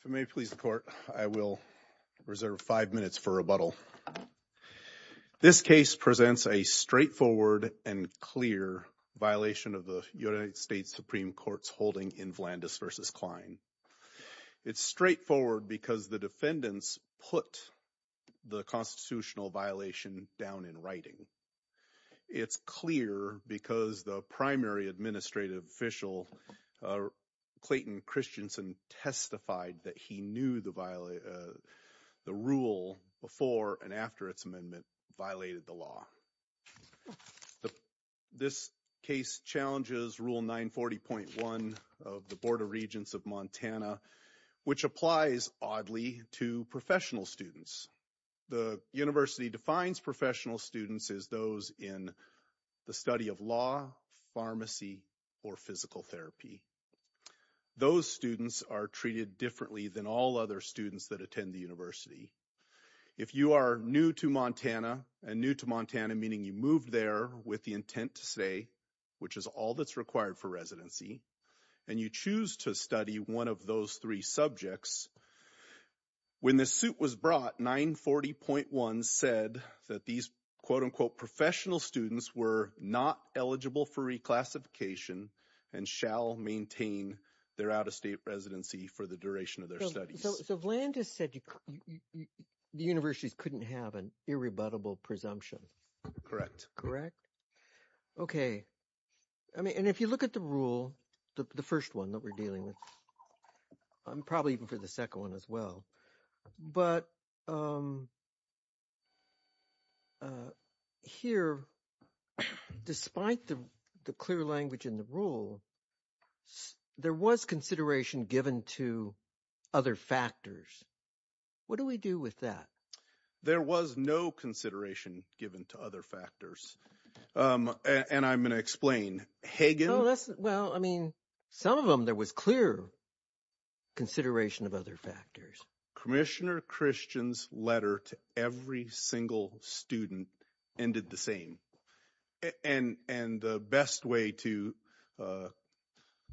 If it may please the court, I will reserve five minutes for rebuttal. This case presents a straightforward and clear violation of the United States Supreme Court's holding in Vlandis v. Kline. It's straightforward because the defendants put the constitutional violation down in writing. It's clear because the primary administrative official, Clayton Christensen, testified that he knew the rule before and after its amendment violated the law. This case challenges Rule 940.1 of the Board of Regents of Montana, which applies, oddly, to professional students. The university defines professional students as those in the study of law, not pharmacy or physical therapy. Those students are treated differently than all other students that attend the university. If you are new to Montana, and new to Montana meaning you moved there with the intent to stay, which is all that's required for residency, and you choose to study one of those three subjects, when the suit was brought, Rule 940.1 said that these quote-unquote professional students were not eligible for reclassification and shall maintain their out-of-state residency for the duration of their studies. So Vlandis said the universities couldn't have an irrebuttable presumption. Correct. Correct. Okay, I mean, and if you look at the rule, the first one that we're dealing with, and probably even for the second one as well, but here, despite the clear language in the rule, there was consideration given to other factors. What do we do with that? There was no consideration given to other factors. And I'm going to explain. Hagen... Well, I mean, some of them there was clear consideration of other factors. Commissioner Christian's letter to every single student ended the same. And the best way to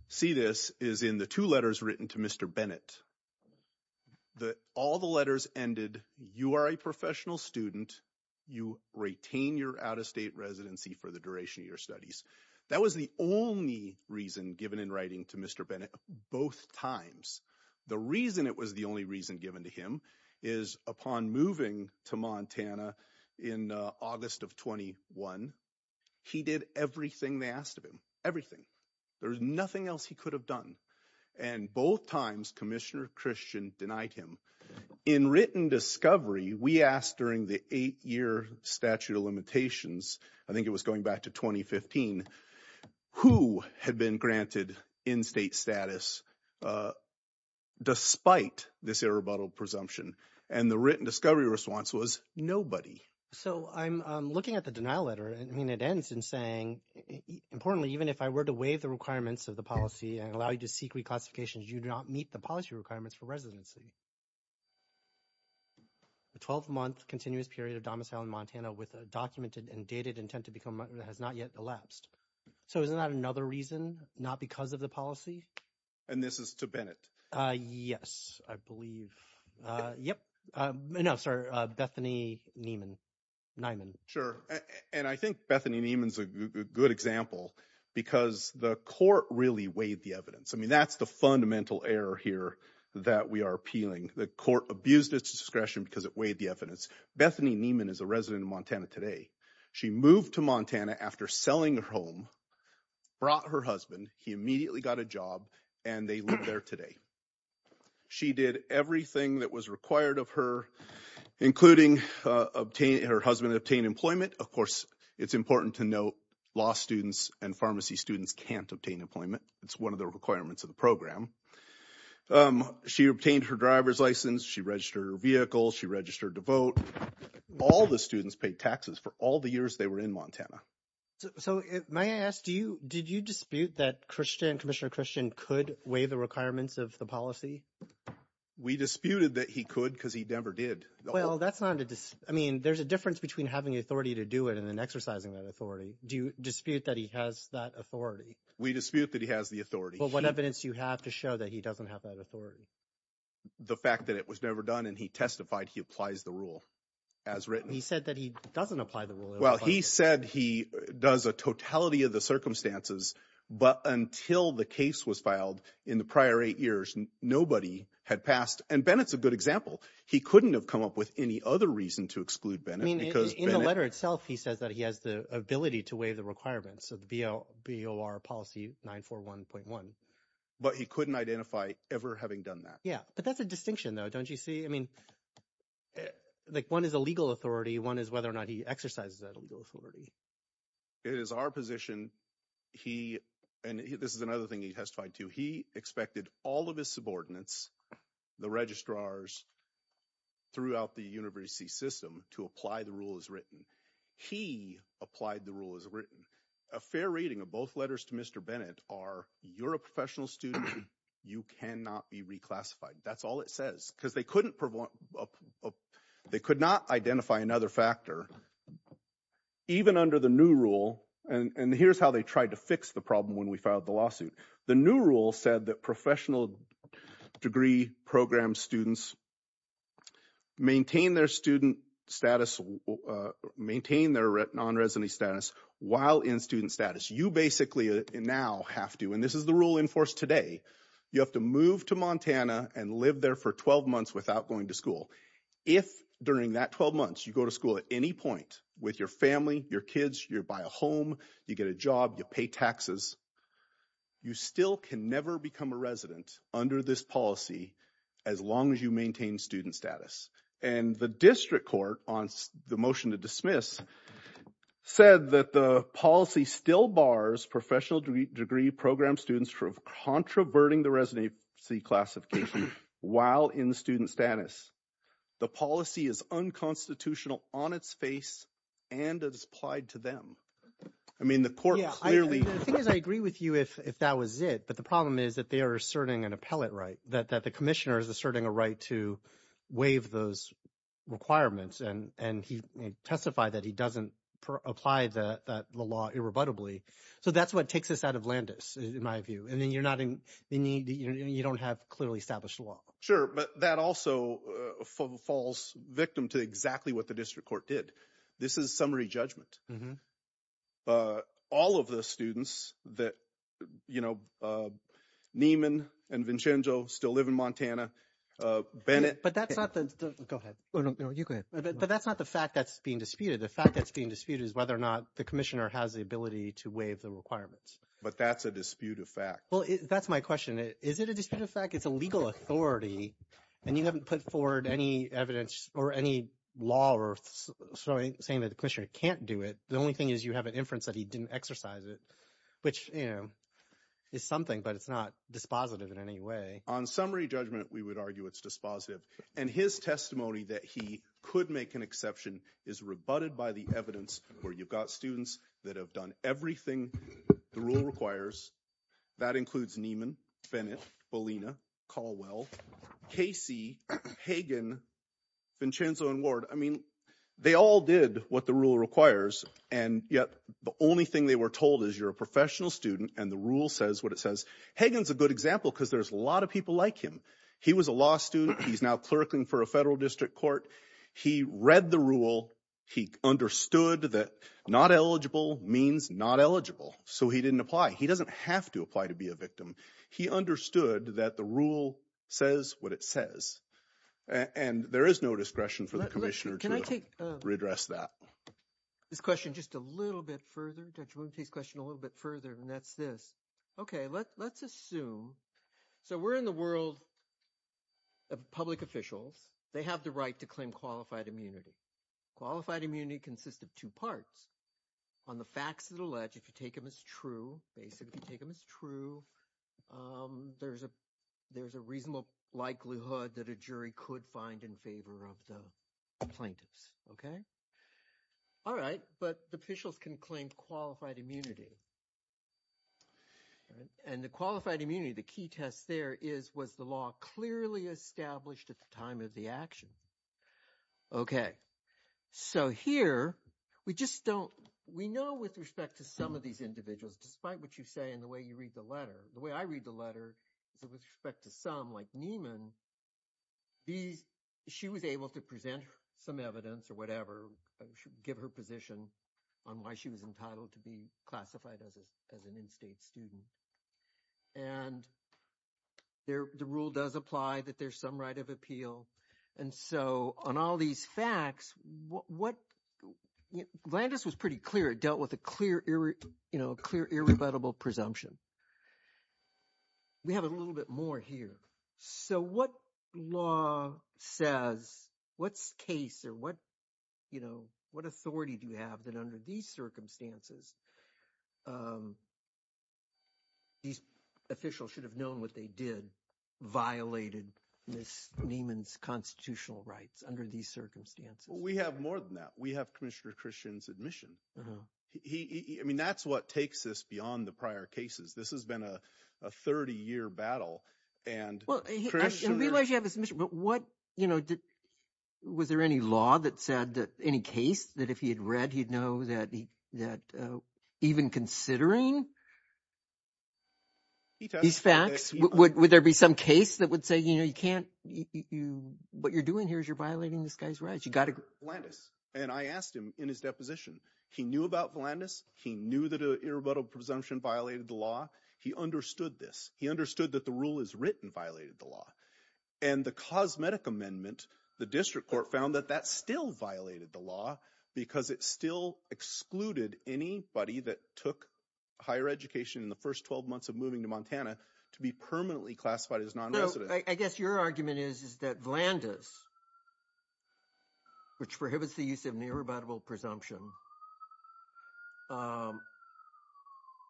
see this is in the two letters written to Mr. Bennett. That all the letters ended, you are a professional student, you retain your out-of-state residency for the duration of your studies. That was the only reason given in writing to Mr. Bennett, both times. The reason it was the only reason given to him is, upon moving to Montana in August of 21, he did everything they asked of him. Everything. There was nothing else he could have done. And both times, Commissioner Christian denied him. In written discovery, we asked during the eight-year statute of limitations, I think it was going back to 2015, who had been granted in-state status despite this irrebuttable presumption. And the written discovery response was nobody. So I'm looking at the denial letter. I mean, it ends in saying, importantly, even if I were to waive the requirements of the policy and allow you to seek reclassifications, you do not meet the policy requirements for residency. The 12-month continuous period of domicile in Montana with a documented and dated intent to become has not yet elapsed. So isn't that another reason, not because of the policy? And this is to Bennett? Yes, I believe. Yep, no, sorry, Bethany Niemann. Sure, and I think Bethany Niemann's a good example because the court really weighed the evidence. I mean, that's the fundamental error here that we are appealing. The court abused its discretion because it weighed the evidence. Bethany Niemann is a resident of Montana today. She moved to Montana after selling her home, brought her husband, he immediately got a job, and they live there today. She did everything that was required of her, including obtaining her husband obtained employment. Of course, it's important to note law students and pharmacy students can't obtain employment. It's one of the requirements of the program. She obtained her driver's license. She registered her vehicle. She registered to vote. All the students paid taxes for all the years they were in Montana. So may I ask, did you dispute that Commissioner Christian could weigh the requirements of the policy? We disputed that he could because he never did. Well, that's not a dispute. I mean, there's a difference between having authority to do it and then exercising that authority. Do you dispute that he has that authority? We dispute that he has the authority. But what evidence do you have to show that he doesn't have that authority? The fact that it was never done and he testified he applies the rule. As written, he said that he doesn't apply the rule. Well, he said he does a totality of the circumstances. But until the case was filed in the prior eight years, nobody had passed. And Bennett's a good example. He couldn't have come up with any other reason to exclude Bennett. I mean, in the letter itself, he says that he has the ability to weigh the requirements of the BOR policy 941.1. But he couldn't identify ever having done that. Yeah. But that's a distinction, though, don't you see? I mean, like one is a legal authority. One is whether or not he exercises that legal authority. It is our position he and this is another thing he testified to. He expected all of his subordinates, the registrars. Throughout the university system to apply the rule as written, he applied the rule as written, a fair reading of both letters to Mr. Bennett are you're a professional student, you cannot be reclassified. That's all it says, because they couldn't they could not identify another factor even under the new rule. And here's how they tried to fix the problem. When we filed the lawsuit, the new rule said that professional degree program students maintain their student status, maintain their non-residency status while in student status. You basically now have to. And this is the rule enforced today. You have to move to Montana and live there for 12 months without going to school. If during that 12 months you go to school at any point with your family, your kids, you buy a home, you get a job, you pay taxes, you still can never become a resident under this policy as long as you maintain student status. And the district court, on the motion to dismiss, said that the policy still bars professional degree program students from controverting the residency classification while in student status. The policy is unconstitutional on its face and it's applied to them. I mean, the court clearly. The thing is, I agree with you if that was it. But the problem is that they are asserting an appellate right, that the commissioner is asserting a right to waive those requirements. And and he testified that he doesn't apply the law irrebuttably. So that's what takes us out of Landis, in my view. And then you're not in the need. You don't have clearly established law. Sure. But that also falls victim to exactly what the district court did. This is summary judgment. All of the students that, you know, Neiman and Vincenzo still live in Montana. Bennett. But that's not the. Go ahead. No, you go ahead. But that's not the fact that's being disputed. The fact that's being disputed is whether or not the commissioner has the ability to waive the requirements. But that's a dispute of fact. Well, that's my question. Is it a dispute of fact? It's a legal authority and you haven't put forward any evidence or any law saying that the commissioner can't do it. The only thing is you have an inference that he didn't exercise it, which is something, but it's not dispositive in any way. On summary judgment, we would argue it's dispositive. And his testimony that he could make an exception is rebutted by the evidence where you've got students that have done everything the rule requires. That includes Neiman, Bennett, Bolina, Caldwell, Casey, Hagan, Vincenzo and Ward. I mean, they all did what the rule requires. And yet the only thing they were told is you're a professional student and the rule says what it says. Hagan's a good example because there's a lot of people like him. He was a law student. He's now clerking for a federal district court. He read the rule. He understood that not eligible means not eligible. So he didn't apply. He doesn't have to apply to be a victim. He understood that the rule says what it says and there is no discretion for the commissioner to readdress that. This question just a little bit further. Judge Wooten takes the question a little bit further and that's this. Okay, let's assume, so we're in the world of public officials. They have the right to claim qualified immunity. Qualified immunity consists of two parts. On the facts of the ledge, if you take them as true, basically if you take them as true, there's a reasonable likelihood that a jury could find in favor of the plaintiffs, okay? All right, but the officials can claim qualified immunity. And the qualified immunity, the key test there is, was the law clearly established at the time of the action? Okay, so here we just don't, we know with respect to some of these individuals, despite what you say and the way you read the letter, the way I read the letter is with respect to some like Nieman, she was able to present some evidence or whatever, give her position on why she was entitled to be classified as an in-state student. And the rule does apply that there's some right of appeal. And so on all these facts, what, Landis was pretty clear, it dealt with a clear irrebuttable presumption. We have a little bit more here. So what law says, what's case or what, you know, what authority do you have that under these circumstances these officials should have known what they did, violated Ms. Nieman's constitutional rights under these circumstances? Well, we have more than that. We have Commissioner Christian's admission. I mean, that's what takes us beyond the prior cases. This has been a 30-year battle and- Well, I realize you have his admission, but what, you know, was there any law that said that any case that if he had read, he'd know that he, that even considering these facts, would there be some case that would say, you know, you can't, what you're doing here is you're violating this guy's rights. You got to- Landis. And I asked him in his deposition, he knew about Landis. He knew that an irrebuttable presumption violated the law. He understood this. He understood that the rule is written violated the law. And the cosmetic amendment, the district court found that that still violated the law because it still excluded anybody that took higher education in the first 12 months of moving to Montana to be permanently classified as non-resident. I guess your argument is, is that Landis, which prohibits the use of an irrebuttable presumption,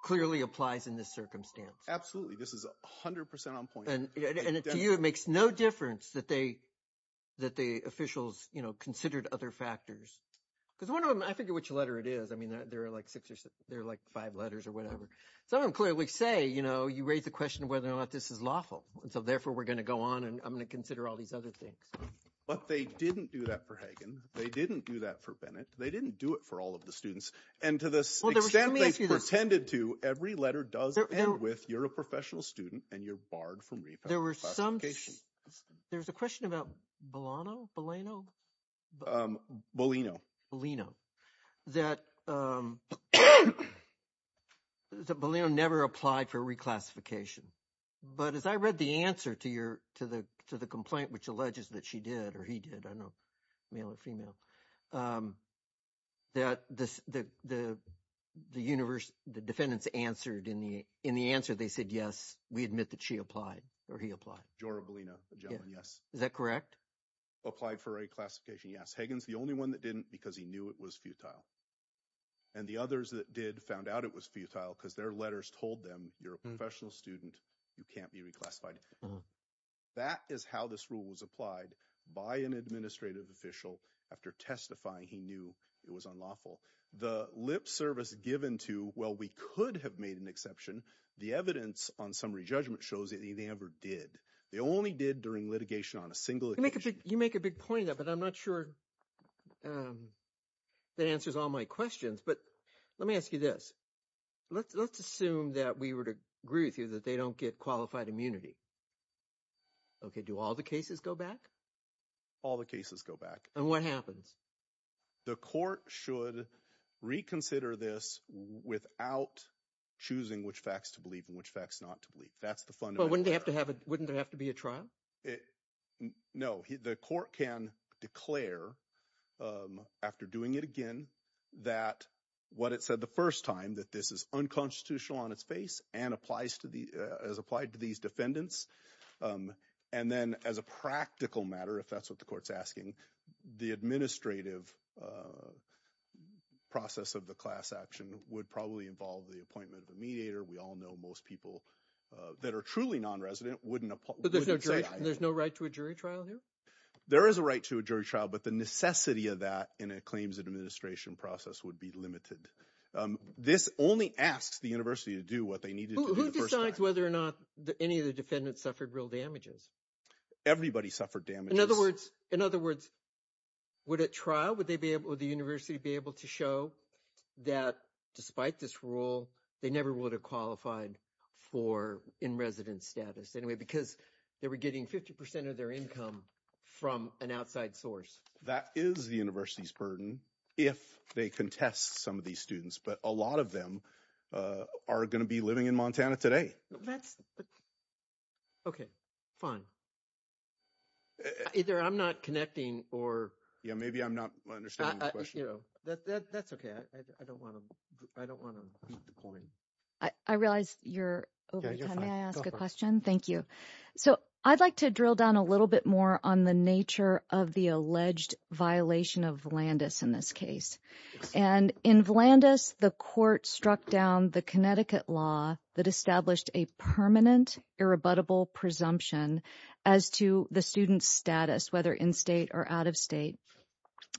clearly applies in this circumstance. Absolutely. This is 100% on point. And to you, it makes no difference that they, that the officials, you know, considered other factors. Because one of them, I figure which letter it is. I mean, there are like six or six, there are like five letters or whatever. Some of them clearly say, you know, you raise the question of whether or not this is lawful. And so therefore, we're going to go on and I'm going to consider all these other things. But they didn't do that for Hagen. They didn't do that for Bennett. They didn't do it for all of the students. And to the extent they pretended to, every letter does end with, you're a professional student and you're barred from repatriation. There were some, there's a question about Bolano? Bolano? Bolino. Bolino. That Bolano never applied for reclassification. But as I read the answer to your, to the complaint, which alleges that she did or he did, I don't know, male or female. That the universe, the defendants answered in the answer, they said, yes, we admit that she applied or he applied. Jora Bolino, the gentleman, yes. Is that correct? Applied for reclassification, yes. Hagen's the only one that didn't because he knew it was futile. And the others that did found out it was futile because their letters told them, you're a professional student, you can't be reclassified. That is how this rule was applied by an administrative official after testifying he knew it was unlawful. The lip service given to, well, we could have made an exception. The evidence on summary judgment shows that they never did. They only did during litigation on a single occasion. You make a big point of that, but I'm not sure that answers all my questions. But let me ask you this. Let's assume that we were to agree with you that they don't get qualified immunity. Okay. Do all the cases go back? All the cases go back. And what happens? The court should reconsider this without choosing which facts to believe and which facts not to believe. That's the fundamental. Wouldn't there have to be a trial? It, no, the court can declare after doing it again, that what it said the first time that this is unconstitutional on its face and applies to the, as applied to these defendants. And then as a practical matter, if that's what the court's asking, the administrative process of the class action would probably involve the appointment of the mediator. We all know most people that are truly non-resident wouldn't. There's no right to a jury trial here? There is a right to a jury trial, but the necessity of that in a claims administration process would be limited. This only asks the university to do what they needed to do the first time. Who decides whether or not any of the defendants suffered real damages? Everybody suffered damages. In other words, would a trial, would the university be able to show that despite this rule, they never would have qualified for in-resident status? Anyway, because they were getting 50% of their income from an outside source. That is the university's burden if they contest some of these students, but a lot of them are going to be living in Montana today. That's, okay, fine. Either I'm not connecting or... Yeah, maybe I'm not understanding the question. That's okay. I don't want to beat the point. I realize you're over time. May I ask a question? Thank you. I'd like to drill down a little bit more on the nature of the alleged violation of Vlandis in this case. And in Vlandis, the court struck down the Connecticut law that established a permanent irrebuttable presumption as to the student's status, whether in-state or out-of-state.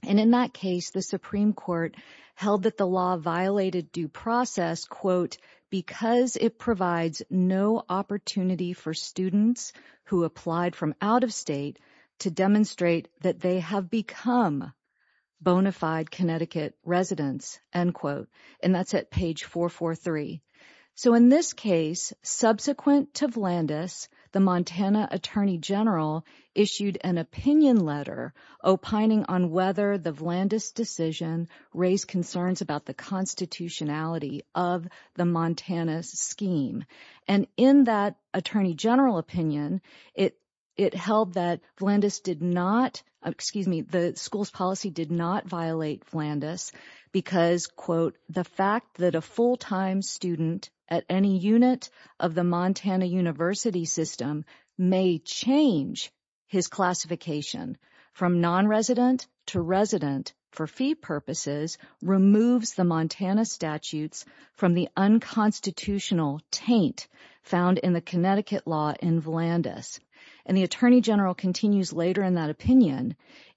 And in that case, the Supreme Court held that the law violated due process, because it provides no opportunity for students who applied from out-of-state to demonstrate that they have become bona fide Connecticut residents, end quote. And that's at page 443. So in this case, subsequent to Vlandis, the Montana Attorney General issued an opinion letter opining on whether the Vlandis decision raised concerns about the constitutionality of the Montana scheme. And in that attorney general opinion, it held that Vlandis did not, excuse me, the school's policy did not violate Vlandis because, quote, the fact that a full-time student at any unit of the Montana university system may change his classification from non-resident to resident for fee purposes, removes the Montana statutes from the unconstitutional taint found in the Connecticut law in Vlandis. And the attorney general continues later in that opinion,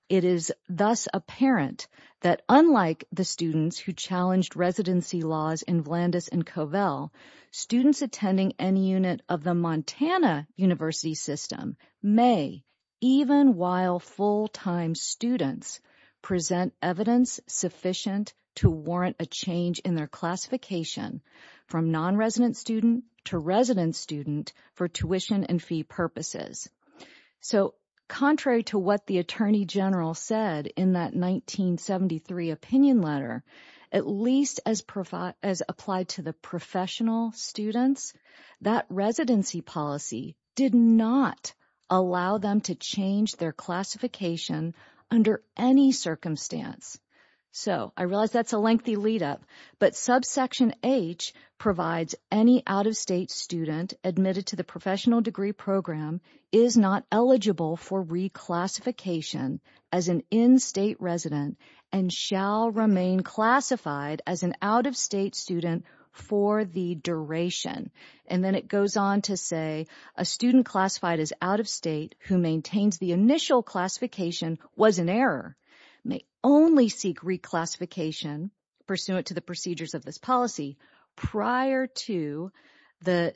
it is thus apparent that unlike the students who challenged residency laws in Vlandis and Covell, students attending any unit of the Montana university system may, even while full-time students present evidence sufficient to warrant a change in their classification from non-resident student to resident student for tuition and fee purposes. So contrary to what the attorney general said in that 1973 opinion letter, at least as applied to the professional students, that residency policy did not allow them to change their classification under any circumstance. So I realize that's a lengthy lead up, but subsection H provides any out-of-state student admitted to the professional degree program is not eligible for reclassification as an in-state resident and shall remain classified as an out-of-state student for the duration. And then it goes on to say a student classified as out-of-state who maintains the initial classification was an error, may only seek reclassification pursuant to the procedures of this policy prior to the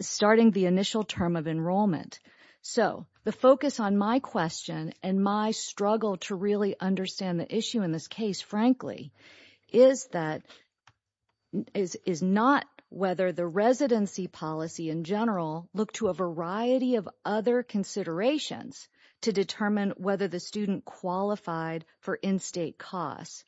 starting the initial term of enrollment. So the focus on my question and my struggle to really understand the issue in this case, frankly, is that, is not whether the residency policy in general look to a variety of other considerations to determine whether the student qualified for in-state costs.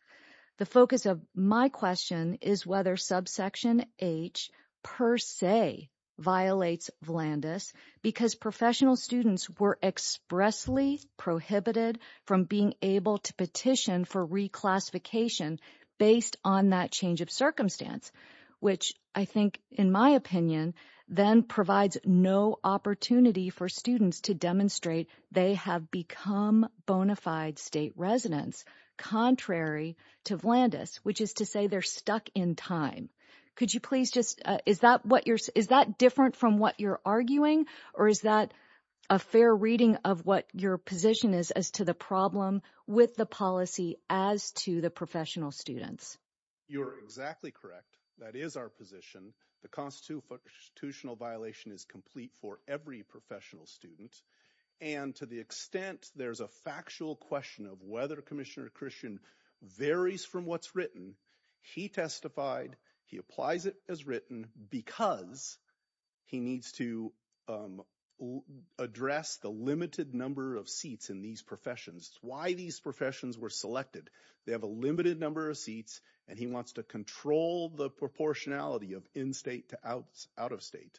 The focus of my question is whether subsection H per se violates Vlandis because professional students were expressly prohibited from being able to petition for reclassification based on that change of circumstance, which I think, in my opinion, then provides no opportunity for students to demonstrate they have become bona fide state residents contrary to Vlandis, which is to say they're stuck in time. Could you please just, is that what you're, is that different from what you're arguing or is that a fair reading of what your position is as to the problem with the policy as to the professional students? You're exactly correct. That is our position. The constitutional violation is complete for every professional student and to the extent there's a factual question of whether Commissioner Christian varies from what's written, he testified, he applies it as written because he needs to address the limited number of seats in these professions. It's why these professions were selected. They have a limited number of seats and he wants to control the proportionality of in-state to out-of-state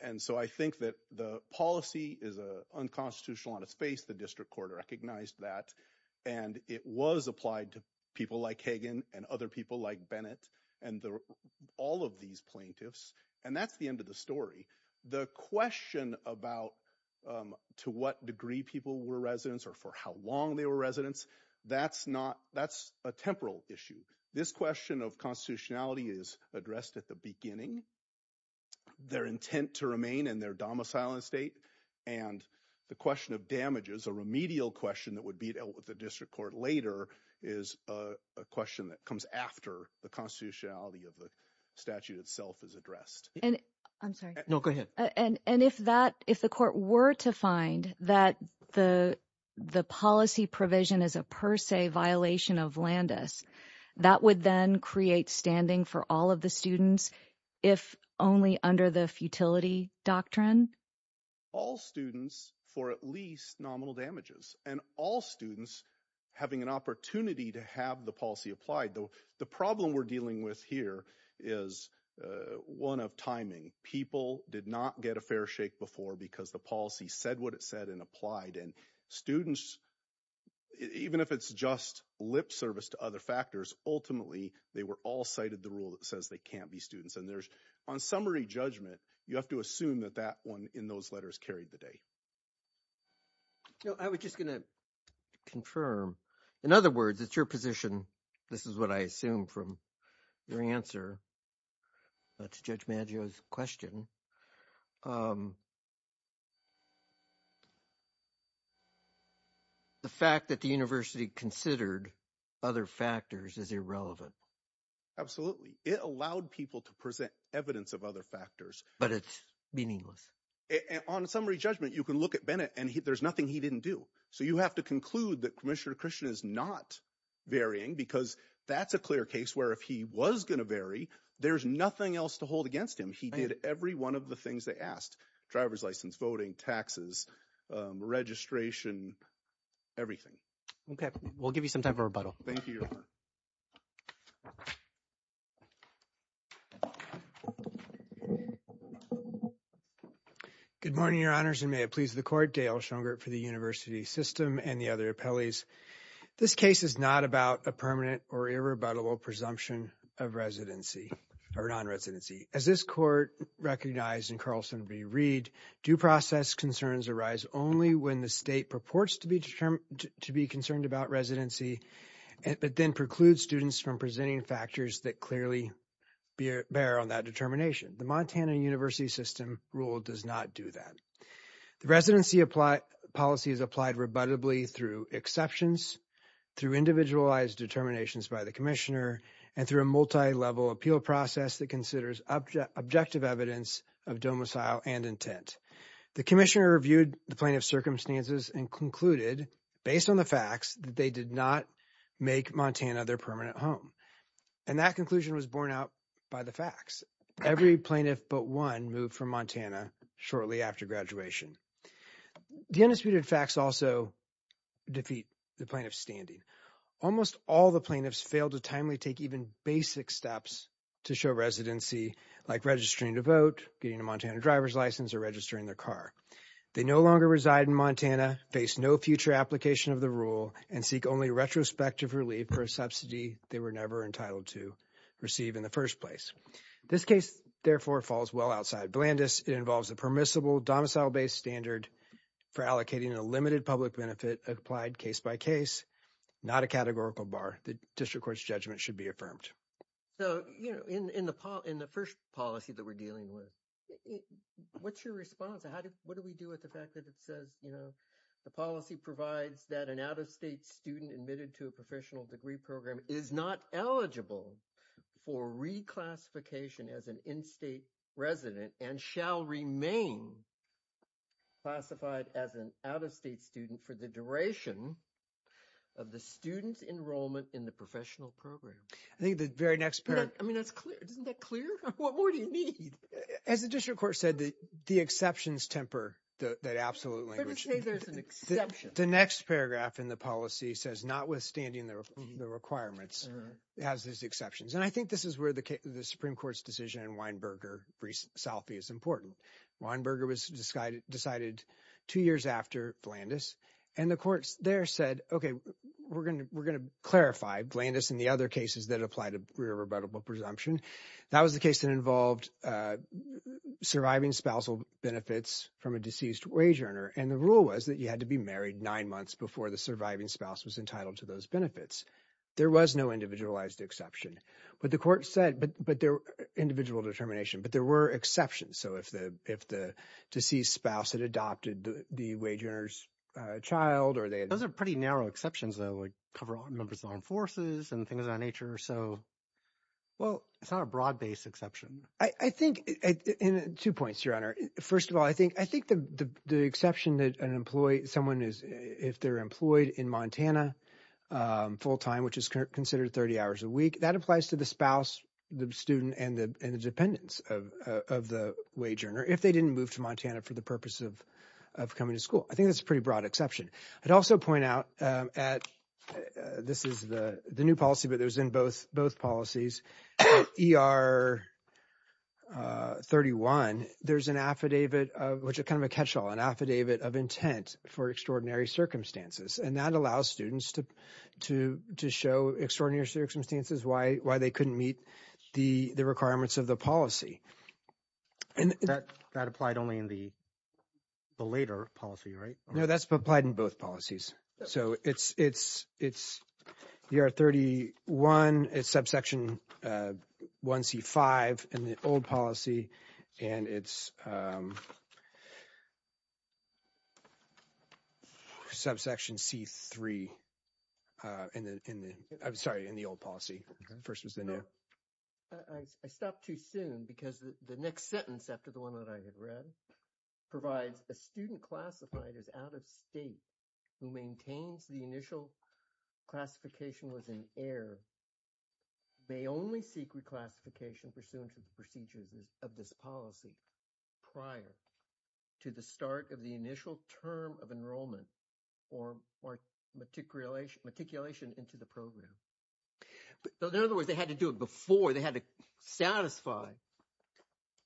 and so I think that the policy is unconstitutional on its face. The district court recognized that and it was applied to people like Hagan and other people like Bennett and all of these plaintiffs and that's the end of the story. The question about to what degree people were residents or for how long they were residents, that's not, that's a temporal issue. This question of constitutionality is addressed at the beginning. Their intent to remain in their domicile in-state and the question of damages, a remedial question that would be dealt with the district court later is a question that comes after the constitutionality of the statute itself is addressed. I'm sorry. No, go ahead. And if that, if the court were to find that the policy provision is a per se violation of Landis, that would then create standing for all of the students if only under the futility doctrine? All students for at least nominal damages and all students having an opportunity to have the policy applied. Though the problem we're dealing with here is one of timing. People did not get a fair shake before because the policy said what it said and applied and students, even if it's just lip service to other factors, ultimately they were all cited the rule that says they can't be students and there's, on summary judgment, you have to assume that that one in those letters carried the day. No, I was just going to confirm. In other words, it's your position, this is what I assume from your answer to Judge Maggio's question. Yeah. The fact that the university considered other factors is irrelevant. Absolutely. It allowed people to present evidence of other factors. But it's meaningless. On a summary judgment, you can look at Bennett and there's nothing he didn't do. So you have to conclude that Commissioner Christian is not varying because that's a clear case where if he was going to vary, there's nothing else to hold against him. He did every one of the things they asked. Driver's license, voting, taxes, registration, everything. Okay. We'll give you some time for rebuttal. Thank you, Your Honor. Good morning, Your Honors, and may it please the court. Dale Schongert for the University System and the other appellees. This case is not about a permanent or irrebuttable presumption of residency or non-residency. As this court recognized in Carlson v. Reed, due process concerns arise only when the state purports to be concerned about residency, but then precludes students from presenting factors that clearly bear on that determination. The Montana University System rule does not do that. The residency policy is applied rebuttably through exceptions, through individualized determinations by the Commissioner, and through a multi-level appeal process that considers objective evidence of domicile and intent. The Commissioner reviewed the plaintiff's circumstances and concluded, based on the facts, that they did not make Montana their permanent home. And that conclusion was borne out by the facts. Every plaintiff but one moved from Montana shortly after graduation. The undisputed facts also defeat the plaintiff's standing. Almost all the plaintiffs failed to timely take even basic steps to show residency, like registering to vote, getting a Montana driver's license, or registering their car. They no longer reside in Montana, face no future application of the rule, and seek only retrospective relief for a subsidy they were never entitled to receive in the first place. This case, therefore, falls well outside Blandes. It involves a permissible domicile-based standard for allocating a limited public benefit applied case by case, not a categorical bar. The District Court's judgment should be affirmed. So, you know, in the first policy that we're dealing with, what's your response? What do we do with the fact that it says, you know, the policy provides that an out-of-state student admitted to a professional degree program is not eligible for reclassification as an in-state resident and shall remain classified as an out-of-state student for the duration of the student's enrollment in the professional program? I think the very next paragraph... I mean, that's clear. Isn't that clear? What more do you need? As the District Court said, the exceptions temper that absolute language. But it says there's an exception. The next paragraph in the policy says, notwithstanding the requirements, it has these exceptions. And I think this is where the Supreme Court's decision in Weinberger v. Salfi is important. Weinberger was decided two years after Blandes. And the courts there said, okay, we're going to clarify Blandes and the other cases that apply to irrebuttable presumption. That was the case that involved surviving spousal benefits from a deceased wage earner. And the rule was that you had to be married nine months before the surviving spouse was entitled to those benefits. There was no individualized exception. But the court said, individual determination, but there were exceptions. So if the deceased spouse had adopted the wage earner's child or they had... Those are pretty narrow exceptions though, like cover all members of the armed forces and things of that nature. So, well, it's not a broad-based exception. I think... Two points, Your Honor. First of all, I think the exception that an employee, someone is... If they're employed in Montana full-time, which is considered 30 hours a week, that applies to the spouse, the student, and the dependents of the wage earner if they didn't move to Montana for the purpose of coming to school. I think that's a pretty broad exception. I'd also point out at... This is the new policy, but it was in both policies. ER 31, there's an affidavit of... Which is kind of a catch-all, an affidavit of intent for extraordinary circumstances. And that allows students to show extraordinary circumstances, why they couldn't meet the requirements of the policy. That applied only in the later policy, right? No, that's applied in both policies. So, it's the ER 31, it's subsection 1C5 in the old policy, and it's subsection C3 in the... I'm sorry, in the old policy. First was the new. No. I stopped too soon because the next sentence after the one that I had read provides, a student classified as out-of-state who maintains the initial classification was an error may only seek reclassification pursuant to the procedures of this policy prior to the start of the initial term of enrollment or matriculation into the program. So, in other words, they had to do it before, they had to satisfy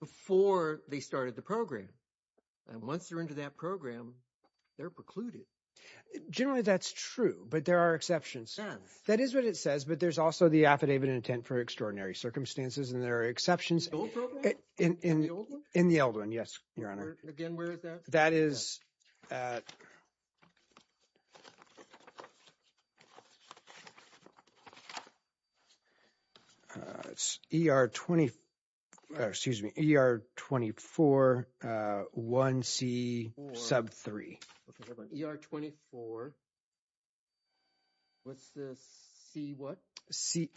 before they started the program. And once they're into that program, they're precluded. Generally, that's true, but there are exceptions. That is what it says, but there's also the affidavit intent for extraordinary circumstances, and there are exceptions in the old one. Yes, Your Honor. Again, where is that? That is at ER 24, excuse me, ER 24, 1C sub 3. ER 24, what's the C what? C3.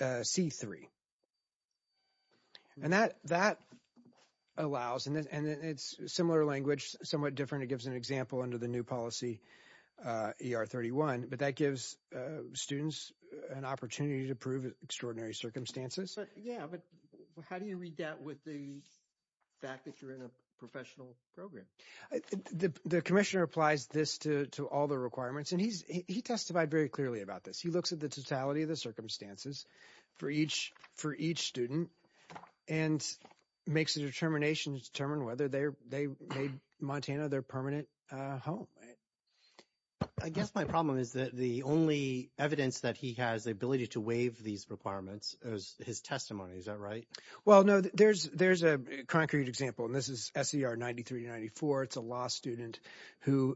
And that allows, and it's similar language, somewhat different. It gives an example under the new policy ER 31, but that gives students an opportunity to prove extraordinary circumstances. Yeah, but how do you read that with the fact that you're in a professional program? The commissioner applies this to all the requirements, and he testified very clearly about this. He looks at the totality of the circumstances for each student and makes a determination to determine whether they made Montana their permanent home. I guess my problem is that the only evidence that he has the ability to waive these requirements is his testimony. Is that right? Well, no, there's a concrete example, and this is SCR 93 to 94. It's a law student who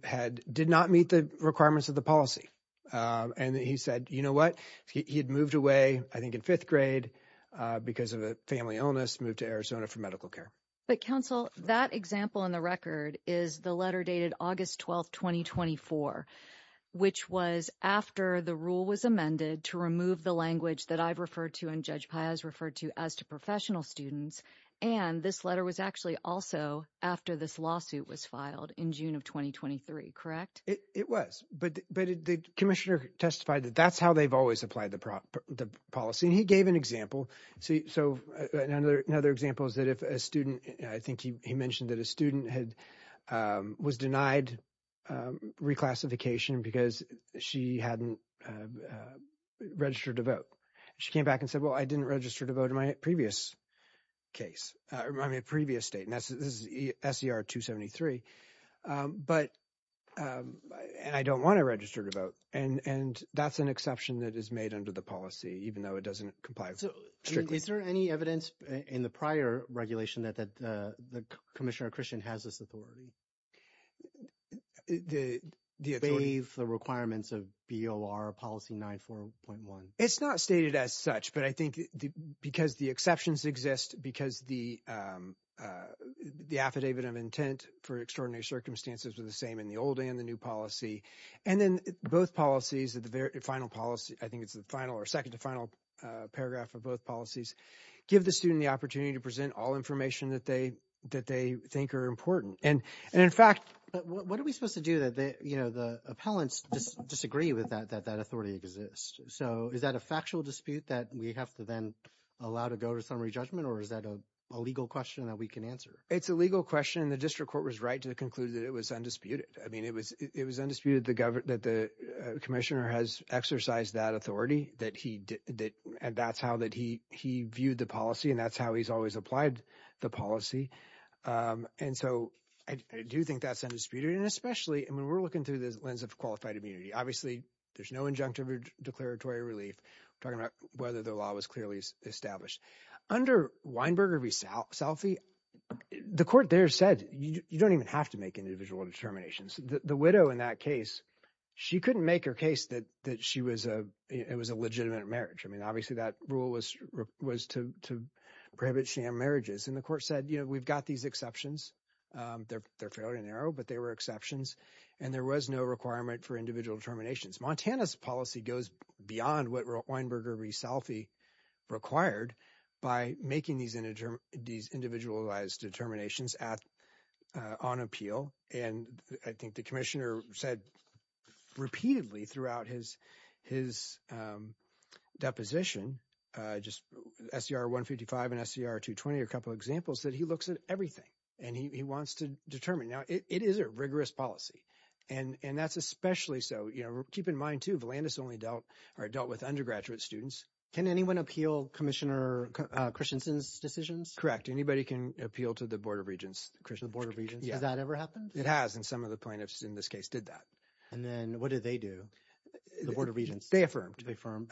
did not meet the requirements of the policy, and he said, you know what? He had moved away, I think in fifth grade because of a family illness, moved to Arizona for medical care. But counsel, that example in the record is the letter dated August 12, 2024, which was after the rule was amended to remove the language that I've referred to and Judge Piaz referred to as to professional students, and this letter was actually also after this lawsuit was filed in June of 2023, correct? It was, but the commissioner testified that that's how they've always applied the policy, and he gave an example. So another example is that if a student, I think he mentioned that a student was denied reclassification because she hadn't registered to vote. She came back and said, well, I didn't this is SCR 273, and I don't want to register to vote, and that's an exception that is made under the policy, even though it doesn't comply strictly. Is there any evidence in the prior regulation that the Commissioner Christian has this authority? The authority. To waive the requirements of BOR policy 94.1. It's not stated as such, but I think because the exceptions exist, because the affidavit of intent for extraordinary circumstances are the same in the old and the new policy, and then both policies, the final policy, I think it's the final or second to final paragraph of both policies, give the student the opportunity to present all information that they think are important, and in fact, what are we supposed to do that, you know, the appellants just disagree with that authority exists. So is that a factual dispute that we have to then allow to go to summary judgment, or is that a legal question that we can answer? It's a legal question, and the district court was right to conclude that it was undisputed. I mean, it was undisputed that the Commissioner has exercised that authority, and that's how that he viewed the policy, and that's how he's always applied the policy, and so I do think that's undisputed, and especially, I mean, we're looking through the lens of qualified immunity. Obviously, there's no injunctive declaratory relief. We're talking about whether the law was clearly established. Under Weinberger v. Salphy, the court there said you don't even have to make individual determinations. The widow in that case, she couldn't make her case that she was a, it was a legitimate marriage. I mean, obviously, that rule was to prohibit sham marriages, and the court said, you know, we've got these exceptions. They're fairly narrow, but they were exceptions, and there was no requirement for individual determinations. Montana's policy goes beyond what Weinberger v. Salphy required by making these individualized determinations on appeal, and I think the Commissioner said repeatedly throughout his deposition, just SCR 155 and SCR 220, a couple examples that he looks at everything, and he wants to determine. Now, it is a rigorous policy, and that's especially so, you know, keep in mind, too, Volantis only dealt with undergraduate students. Can anyone appeal Commissioner Christensen's decisions? Correct. Anybody can appeal to the Board of Regents. The Board of Regents? Has that ever happened? It has, and some of the plaintiffs in this case did that. And then what did they do? The Board of Regents? They affirmed. They affirmed.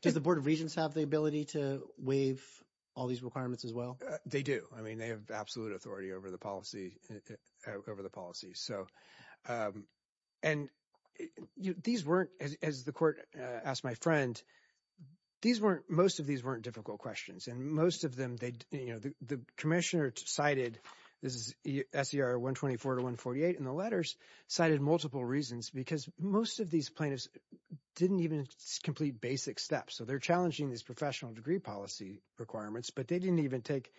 Does the Board of Regents have the ability to waive all these requirements as well? They do. I mean, they have absolute authority over the policy, so, and these weren't, as the Court asked my friend, these weren't, most of these weren't difficult questions, and most of them, you know, the Commissioner cited, this is SCR 124 to 148 in the letters, cited multiple reasons because most of these plaintiffs didn't even complete basic steps. So they're challenging these professional degree policy requirements, but they didn't even take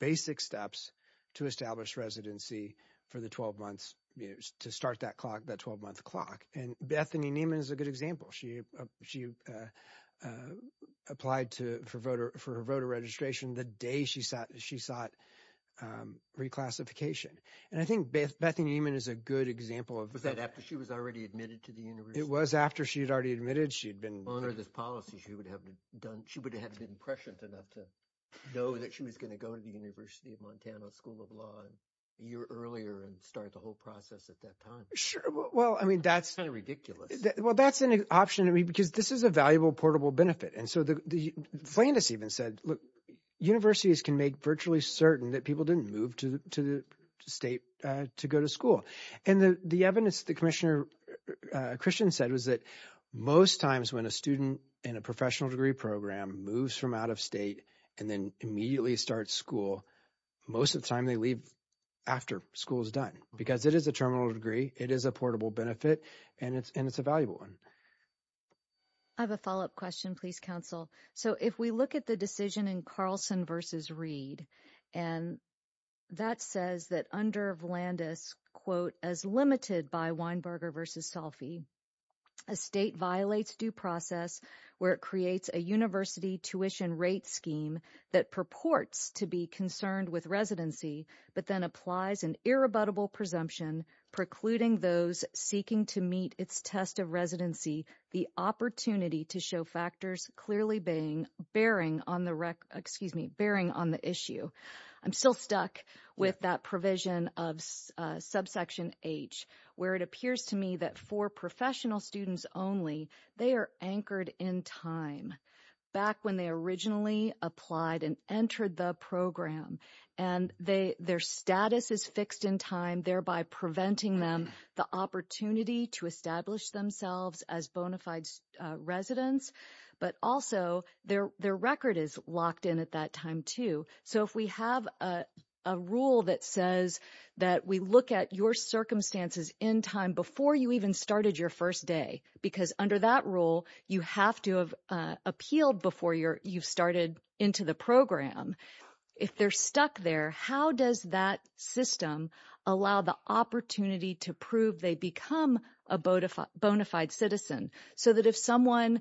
basic steps to establish residency for the 12 months, you know, to start that clock, that 12-month clock, and Bethany Neiman is a good example. She applied to, for voter, for her voter registration the day she sought reclassification, and I think Bethany Neiman is a good example of that. Was that after she was already admitted to the university? It was after she had already admitted, she had been... On her this policy, she would have done, she would have been prescient enough to know that she was going to go to the University of Montana School of Law a year earlier and start the whole process at that time. Sure, well, I mean, that's... It's kind of ridiculous. Well, that's an option, I mean, because this is a valuable, portable benefit, and so the plaintiffs even said, look, universities can make virtually certain that people didn't move to the state to go to school. And the evidence that Commissioner Christian said was that most times when a student in a professional degree program moves from out of state and then immediately starts school, most of the time they leave after school is done, because it is a terminal degree, it is a portable benefit, and it's a valuable one. I have a follow-up question, please, Counsel. So if we look at the decision in Carlson v. Reed, and that says that under Volandis, quote, as limited by Weinberger v. Salfi, a state violates due process where it creates a university tuition rate scheme that purports to be concerned with residency, but then applies an irrebuttable presumption precluding those seeking to meet its test of residency the opportunity to show factors clearly bearing on the issue. I'm still stuck with that provision of subsection H, where it appears to me that for professional students only, they are anchored in time back when they originally applied and entered the program, and their status is fixed in time, thereby preventing them the opportunity to establish themselves as bona fide residents, but also their record is locked in at that time, too. So if we have a rule that says that we look at your circumstances in time before you even started your first day, because under that rule, you have to have appealed before you've started into the program, if they're stuck there, how does that system allow the opportunity to prove they become a bona fide citizen, so that if someone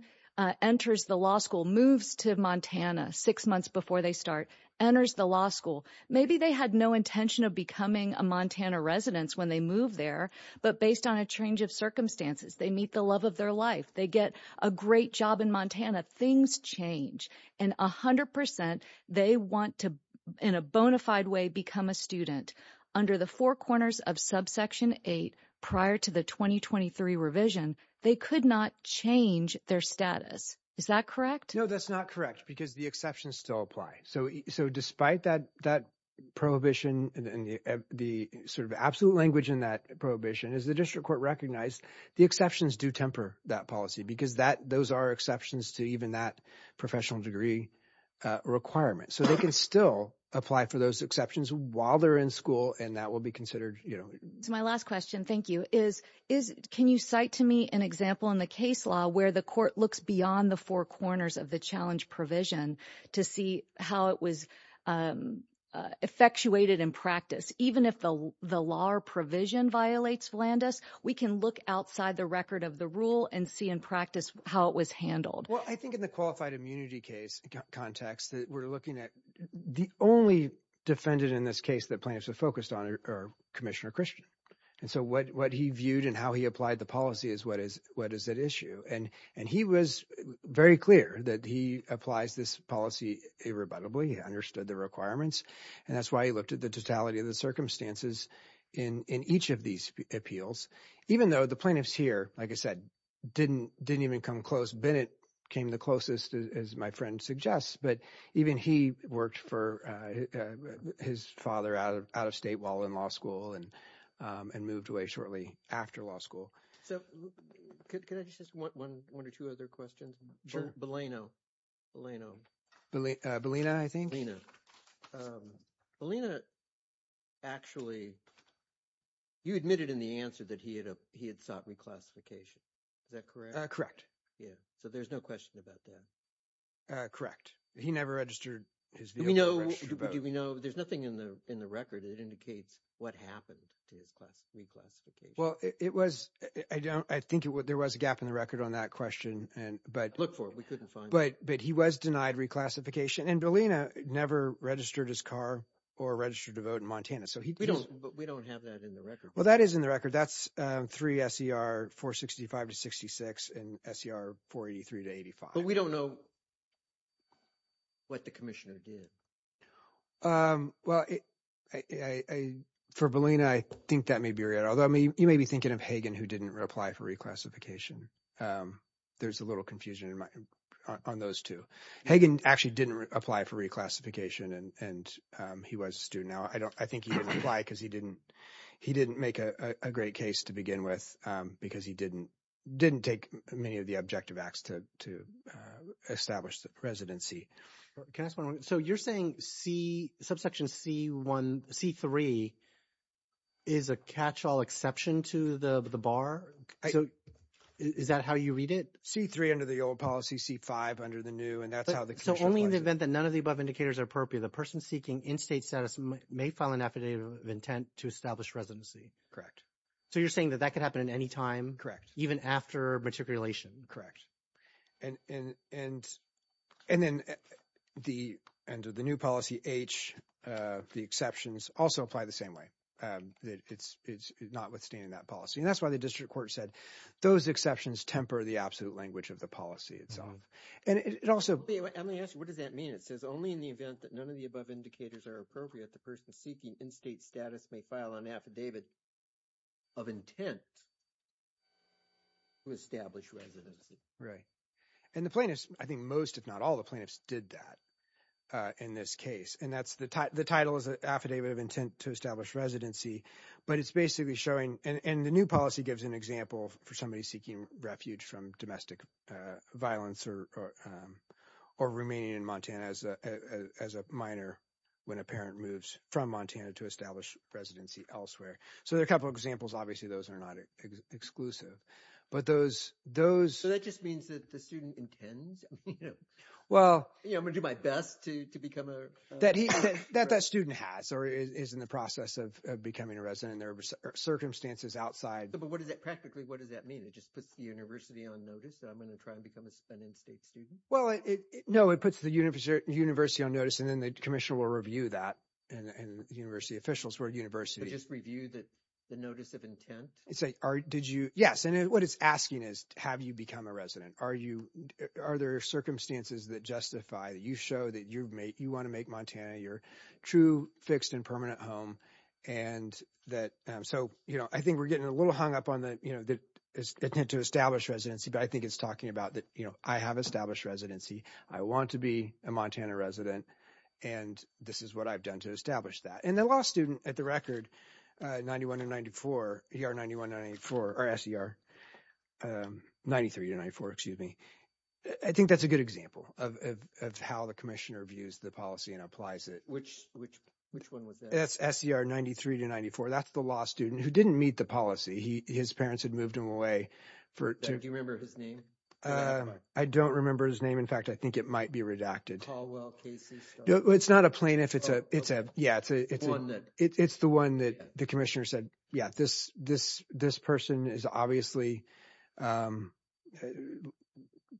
enters the law school, moves to Montana six months before they start, enters the law school, maybe they had no intention of becoming a Montana resident when they move there, but based on a change of circumstances, they meet the love of their life, they get a great job in Montana, things change. And 100%, they want to, in a bona fide way, become a student. Under the four corners of subsection eight, prior to the 2023 revision, they could not change their status. Is that correct? No, that's not correct, because the exceptions still apply. So despite that prohibition, the sort of absolute language in that prohibition, as the district court recognized, the exceptions do temper that policy, because those are exceptions to even that professional degree requirement. So they can still apply for those exceptions while they're in school, and that will be considered... My last question, thank you, is, can you cite to me an example in the case law where the court looks beyond the four corners of the challenge provision to see how it was effectuated in practice? Even if the law or provision violates Flanders, we can look outside the record of the rule and see in practice how it was handled. Well, I think in the qualified immunity case context that we're looking at, the only defendant in this case that plaintiffs are focused on are Commissioner Christian. And so what he viewed and how he applied the policy is, what is at issue? And he was very clear that he applies this policy irrebuttably, he understood the requirements, and that's why he looked at the totality of the circumstances in each of these appeals, even though the plaintiffs here, like I said, didn't even come close. Bennett came the closest, as my friend suggests, but even he worked for his father out of state while in law school and moved away shortly after law school. So could I just, one or two other questions? Sure. Bellino, Bellino. Bellina, I think? Bellino, Bellino actually, you admitted in the answer that he had sought reclassification. Is that correct? Correct. Yeah. So there's no question about that. Correct. He never registered his vehicle. We know, do we know? There's nothing in the record that indicates what happened to his reclassification. Well, it was, I think there was a gap in the record on that question, but- Look for it, we couldn't find it. But he was denied reclassification and Bellina never registered his car or registered to vote in Montana. So he- We don't, but we don't have that in the record. Well, that is in the record. That's three S.E.R. 465 to 66 and S.E.R. 483 to 85. But we don't know what the commissioner did. Well, for Bellina, I think that may be right. Although you may be thinking of Hagan who didn't apply for reclassification. There's a little confusion on those two. Hagan actually didn't apply for reclassification and he was a student. Now, I think he didn't apply because he didn't make a great case to begin with because he didn't take many of the objective acts to establish the residency. Can I ask one more? So you're saying C, subsection C1, C3 is a catch-all exception to the bar? Is that how you read it? C3 under the old policy, C5 under the new and that's how the- So only in the event that none of the above indicators are appropriate, the person seeking in-state status may file an affidavit of intent to establish residency. Correct. So you're saying that that could happen at any time? Correct. Even after matriculation? Correct. And then under the new policy, H, the exceptions also apply the same way. It's not withstanding that policy. And that's why the district court said those exceptions temper the absolute language of the policy itself. And it also- Wait, let me ask you, what does that mean? It says only in the event that none of the above indicators are appropriate, the person seeking in-state status may file an affidavit of intent to establish residency. Right. And the plaintiffs, I think most if not all the plaintiffs did that in this case. And that's the title is an affidavit of intent to establish residency, but it's basically showing, and the new policy gives an example for somebody seeking refuge from domestic violence or remaining in Montana as a minor when a parent moves from Montana to establish residency elsewhere. There are a couple of examples. Obviously, those are not exclusive, but those- So that just means that the student intends, I'm going to do my best to become a- That that student has or is in the process of becoming a resident and there are circumstances outside- But what does that practically, what does that mean? It just puts the university on notice that I'm going to try and become a spent in-state student? Well, no, it puts the university on notice and then the commissioner will review that and university officials or university- Just review the notice of intent? Yes. And what it's asking is, have you become a resident? Are there circumstances that justify that you show that you want to make Montana your true fixed and permanent home? So I think we're getting a little hung up on the intent to establish residency, but I think it's talking about that I have established residency. I want to be a Montana resident and this is what I've done to establish that. And the law student at the record, 91 to 94, ER 91 to 94, or SCR 93 to 94, excuse me. I think that's a good example of how the commissioner views the policy and applies it. Which one was that? That's SCR 93 to 94. That's the law student who didn't meet the policy. His parents had moved him away for- Do you remember his name? I don't remember his name. In fact, I think it might be redacted. Caldwell Casey- It's not a plaintiff. It's the one that the commissioner said, yeah, this person has obviously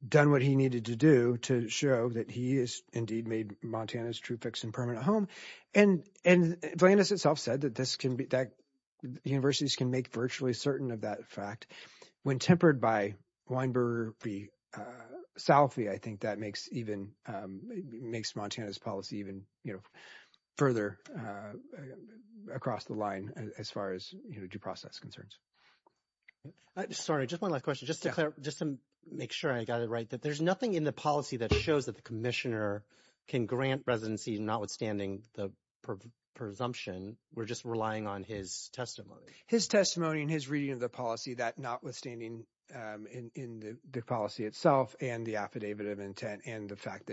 done what he needed to do to show that he has indeed made Montana's true fixed and permanent home. And Atlantis itself said that universities can make virtually certain of that fact. When tempered by Weinberger, Salafi, I think that makes Montana's policy even further across the line as far as due process concerns. Sorry, just one last question. Just to make sure I got it right, that there's nothing in the policy that shows that the commissioner can grant residency notwithstanding the presumption. We're just relying on his testimony. His testimony and his reading of the policy that notwithstanding in the policy itself and the affidavit of intent and the fact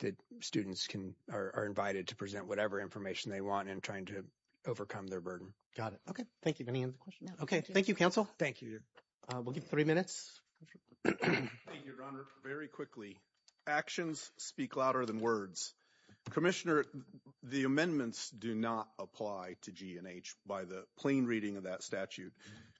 that students are invited to present whatever information they want in trying to overcome their burden. Got it. Okay. Thank you. Any other questions? Okay. Thank you, counsel. Thank you, your honor. We'll give you three minutes. Thank you, your honor. Very quickly, actions speak louder than words. Commissioner, the amendments do not apply to G&H by the plain reading of that statute.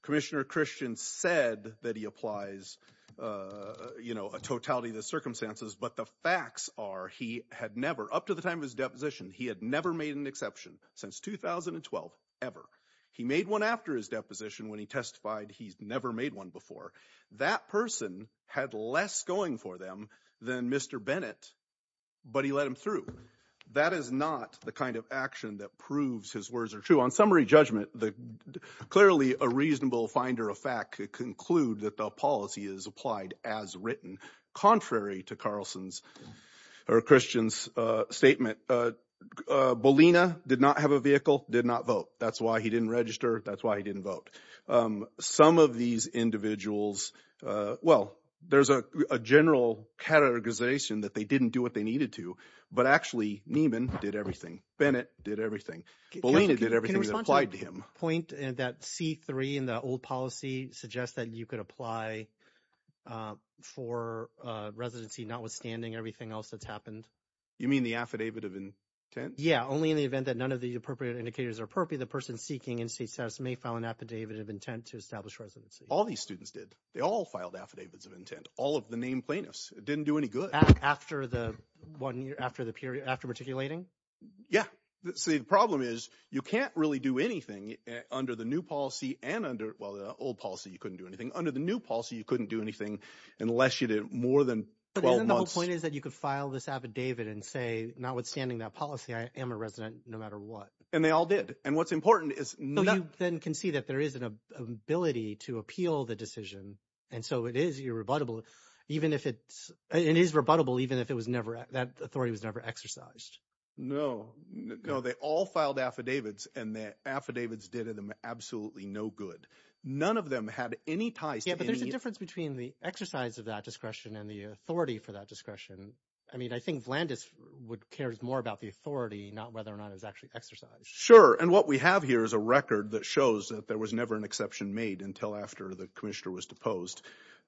Commissioner Christian said that he applies a totality of the circumstances, but the facts are he had never, up to the time of his deposition, he had never made an exception since 2012 ever. He made one after his deposition when he testified he's never made one before. That person had less going for them than Mr. Bennett, but he let him through. That is not the kind of action that proves his words are true. On summary judgment, clearly a reasonable finder of fact could conclude that the policy is applied as written, contrary to Carlson's or Christian's statement. Bolina did not have a vehicle, did not vote. That's why he didn't register. That's why he didn't vote. Some of these individuals, well, there's a general categorization that they didn't do what they needed to, but actually Nieman did everything. Bennett did everything. Bolina did everything that applied to him. Can you respond to that point that C3 in the old policy suggests that you could apply for residency notwithstanding everything else that's happened? You mean the affidavit of intent? Yeah, only in the event that none of the appropriate indicators are appropriate, the person seeking in-state status may file an affidavit of intent to establish residency. All these students did. They all filed affidavits of intent. All of the named plaintiffs. It didn't do any good. After the one year, after the period, after articulating? Yeah. See, the problem is you can't really do anything under the new policy and under, well, the old policy, you couldn't do anything. Under the new policy, you couldn't do anything unless you did more than 12 months. And then the whole point is that you could file this affidavit and say, notwithstanding that policy, I am a resident no matter what. And they all did. And what's important is- So you then can see that there is an ability to appeal the decision. And so it is irrebuttable, even if it's, it is rebuttable, even if it was never, that authority was never exercised. No, no, they all filed affidavits and the affidavits did them absolutely no good. None of them had any ties to any- Yeah, but there's a difference between the exercise of that discretion and the authority for that discretion. I mean, I think Vlandis cares more about the authority, not whether or not it was actually exercised. Sure. And what we have here is a record that shows that there was never an exception made until after the commissioner was deposed.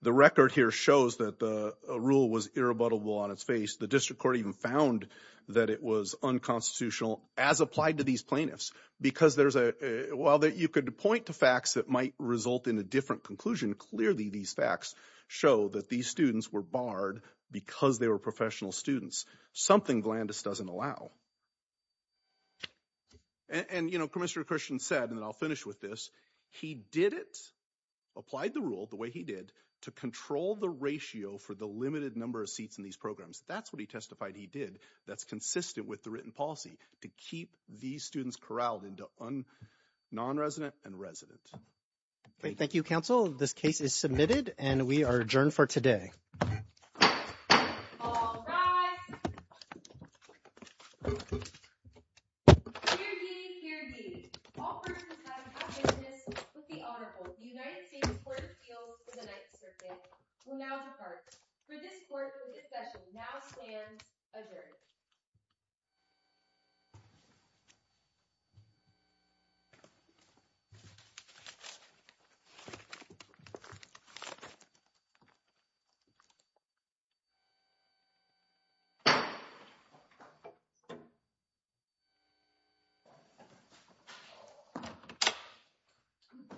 The record here shows that the rule was irrebuttable on its face. The district court even found that it was unconstitutional as applied to these plaintiffs. Because there's a- While you could point to facts that might result in a different conclusion, clearly these facts show that these students were barred because they were professional students, something Vlandis doesn't allow. And, you know, Commissioner Christian said, and then I'll finish with this, he did it, applied the rule the way he did, to control the ratio for the limited number of seats in these programs. That's what he testified he did that's consistent with the written policy to keep these students corralled into non-resident and resident. Thank you, counsel. This case is submitted and we are adjourned for today. All rise. Hear ye, hear ye. All persons having business with the Honorable United States Court of Appeals for the Ninth Circuit will now depart. For this court, the session now stands adjourned. Thank you.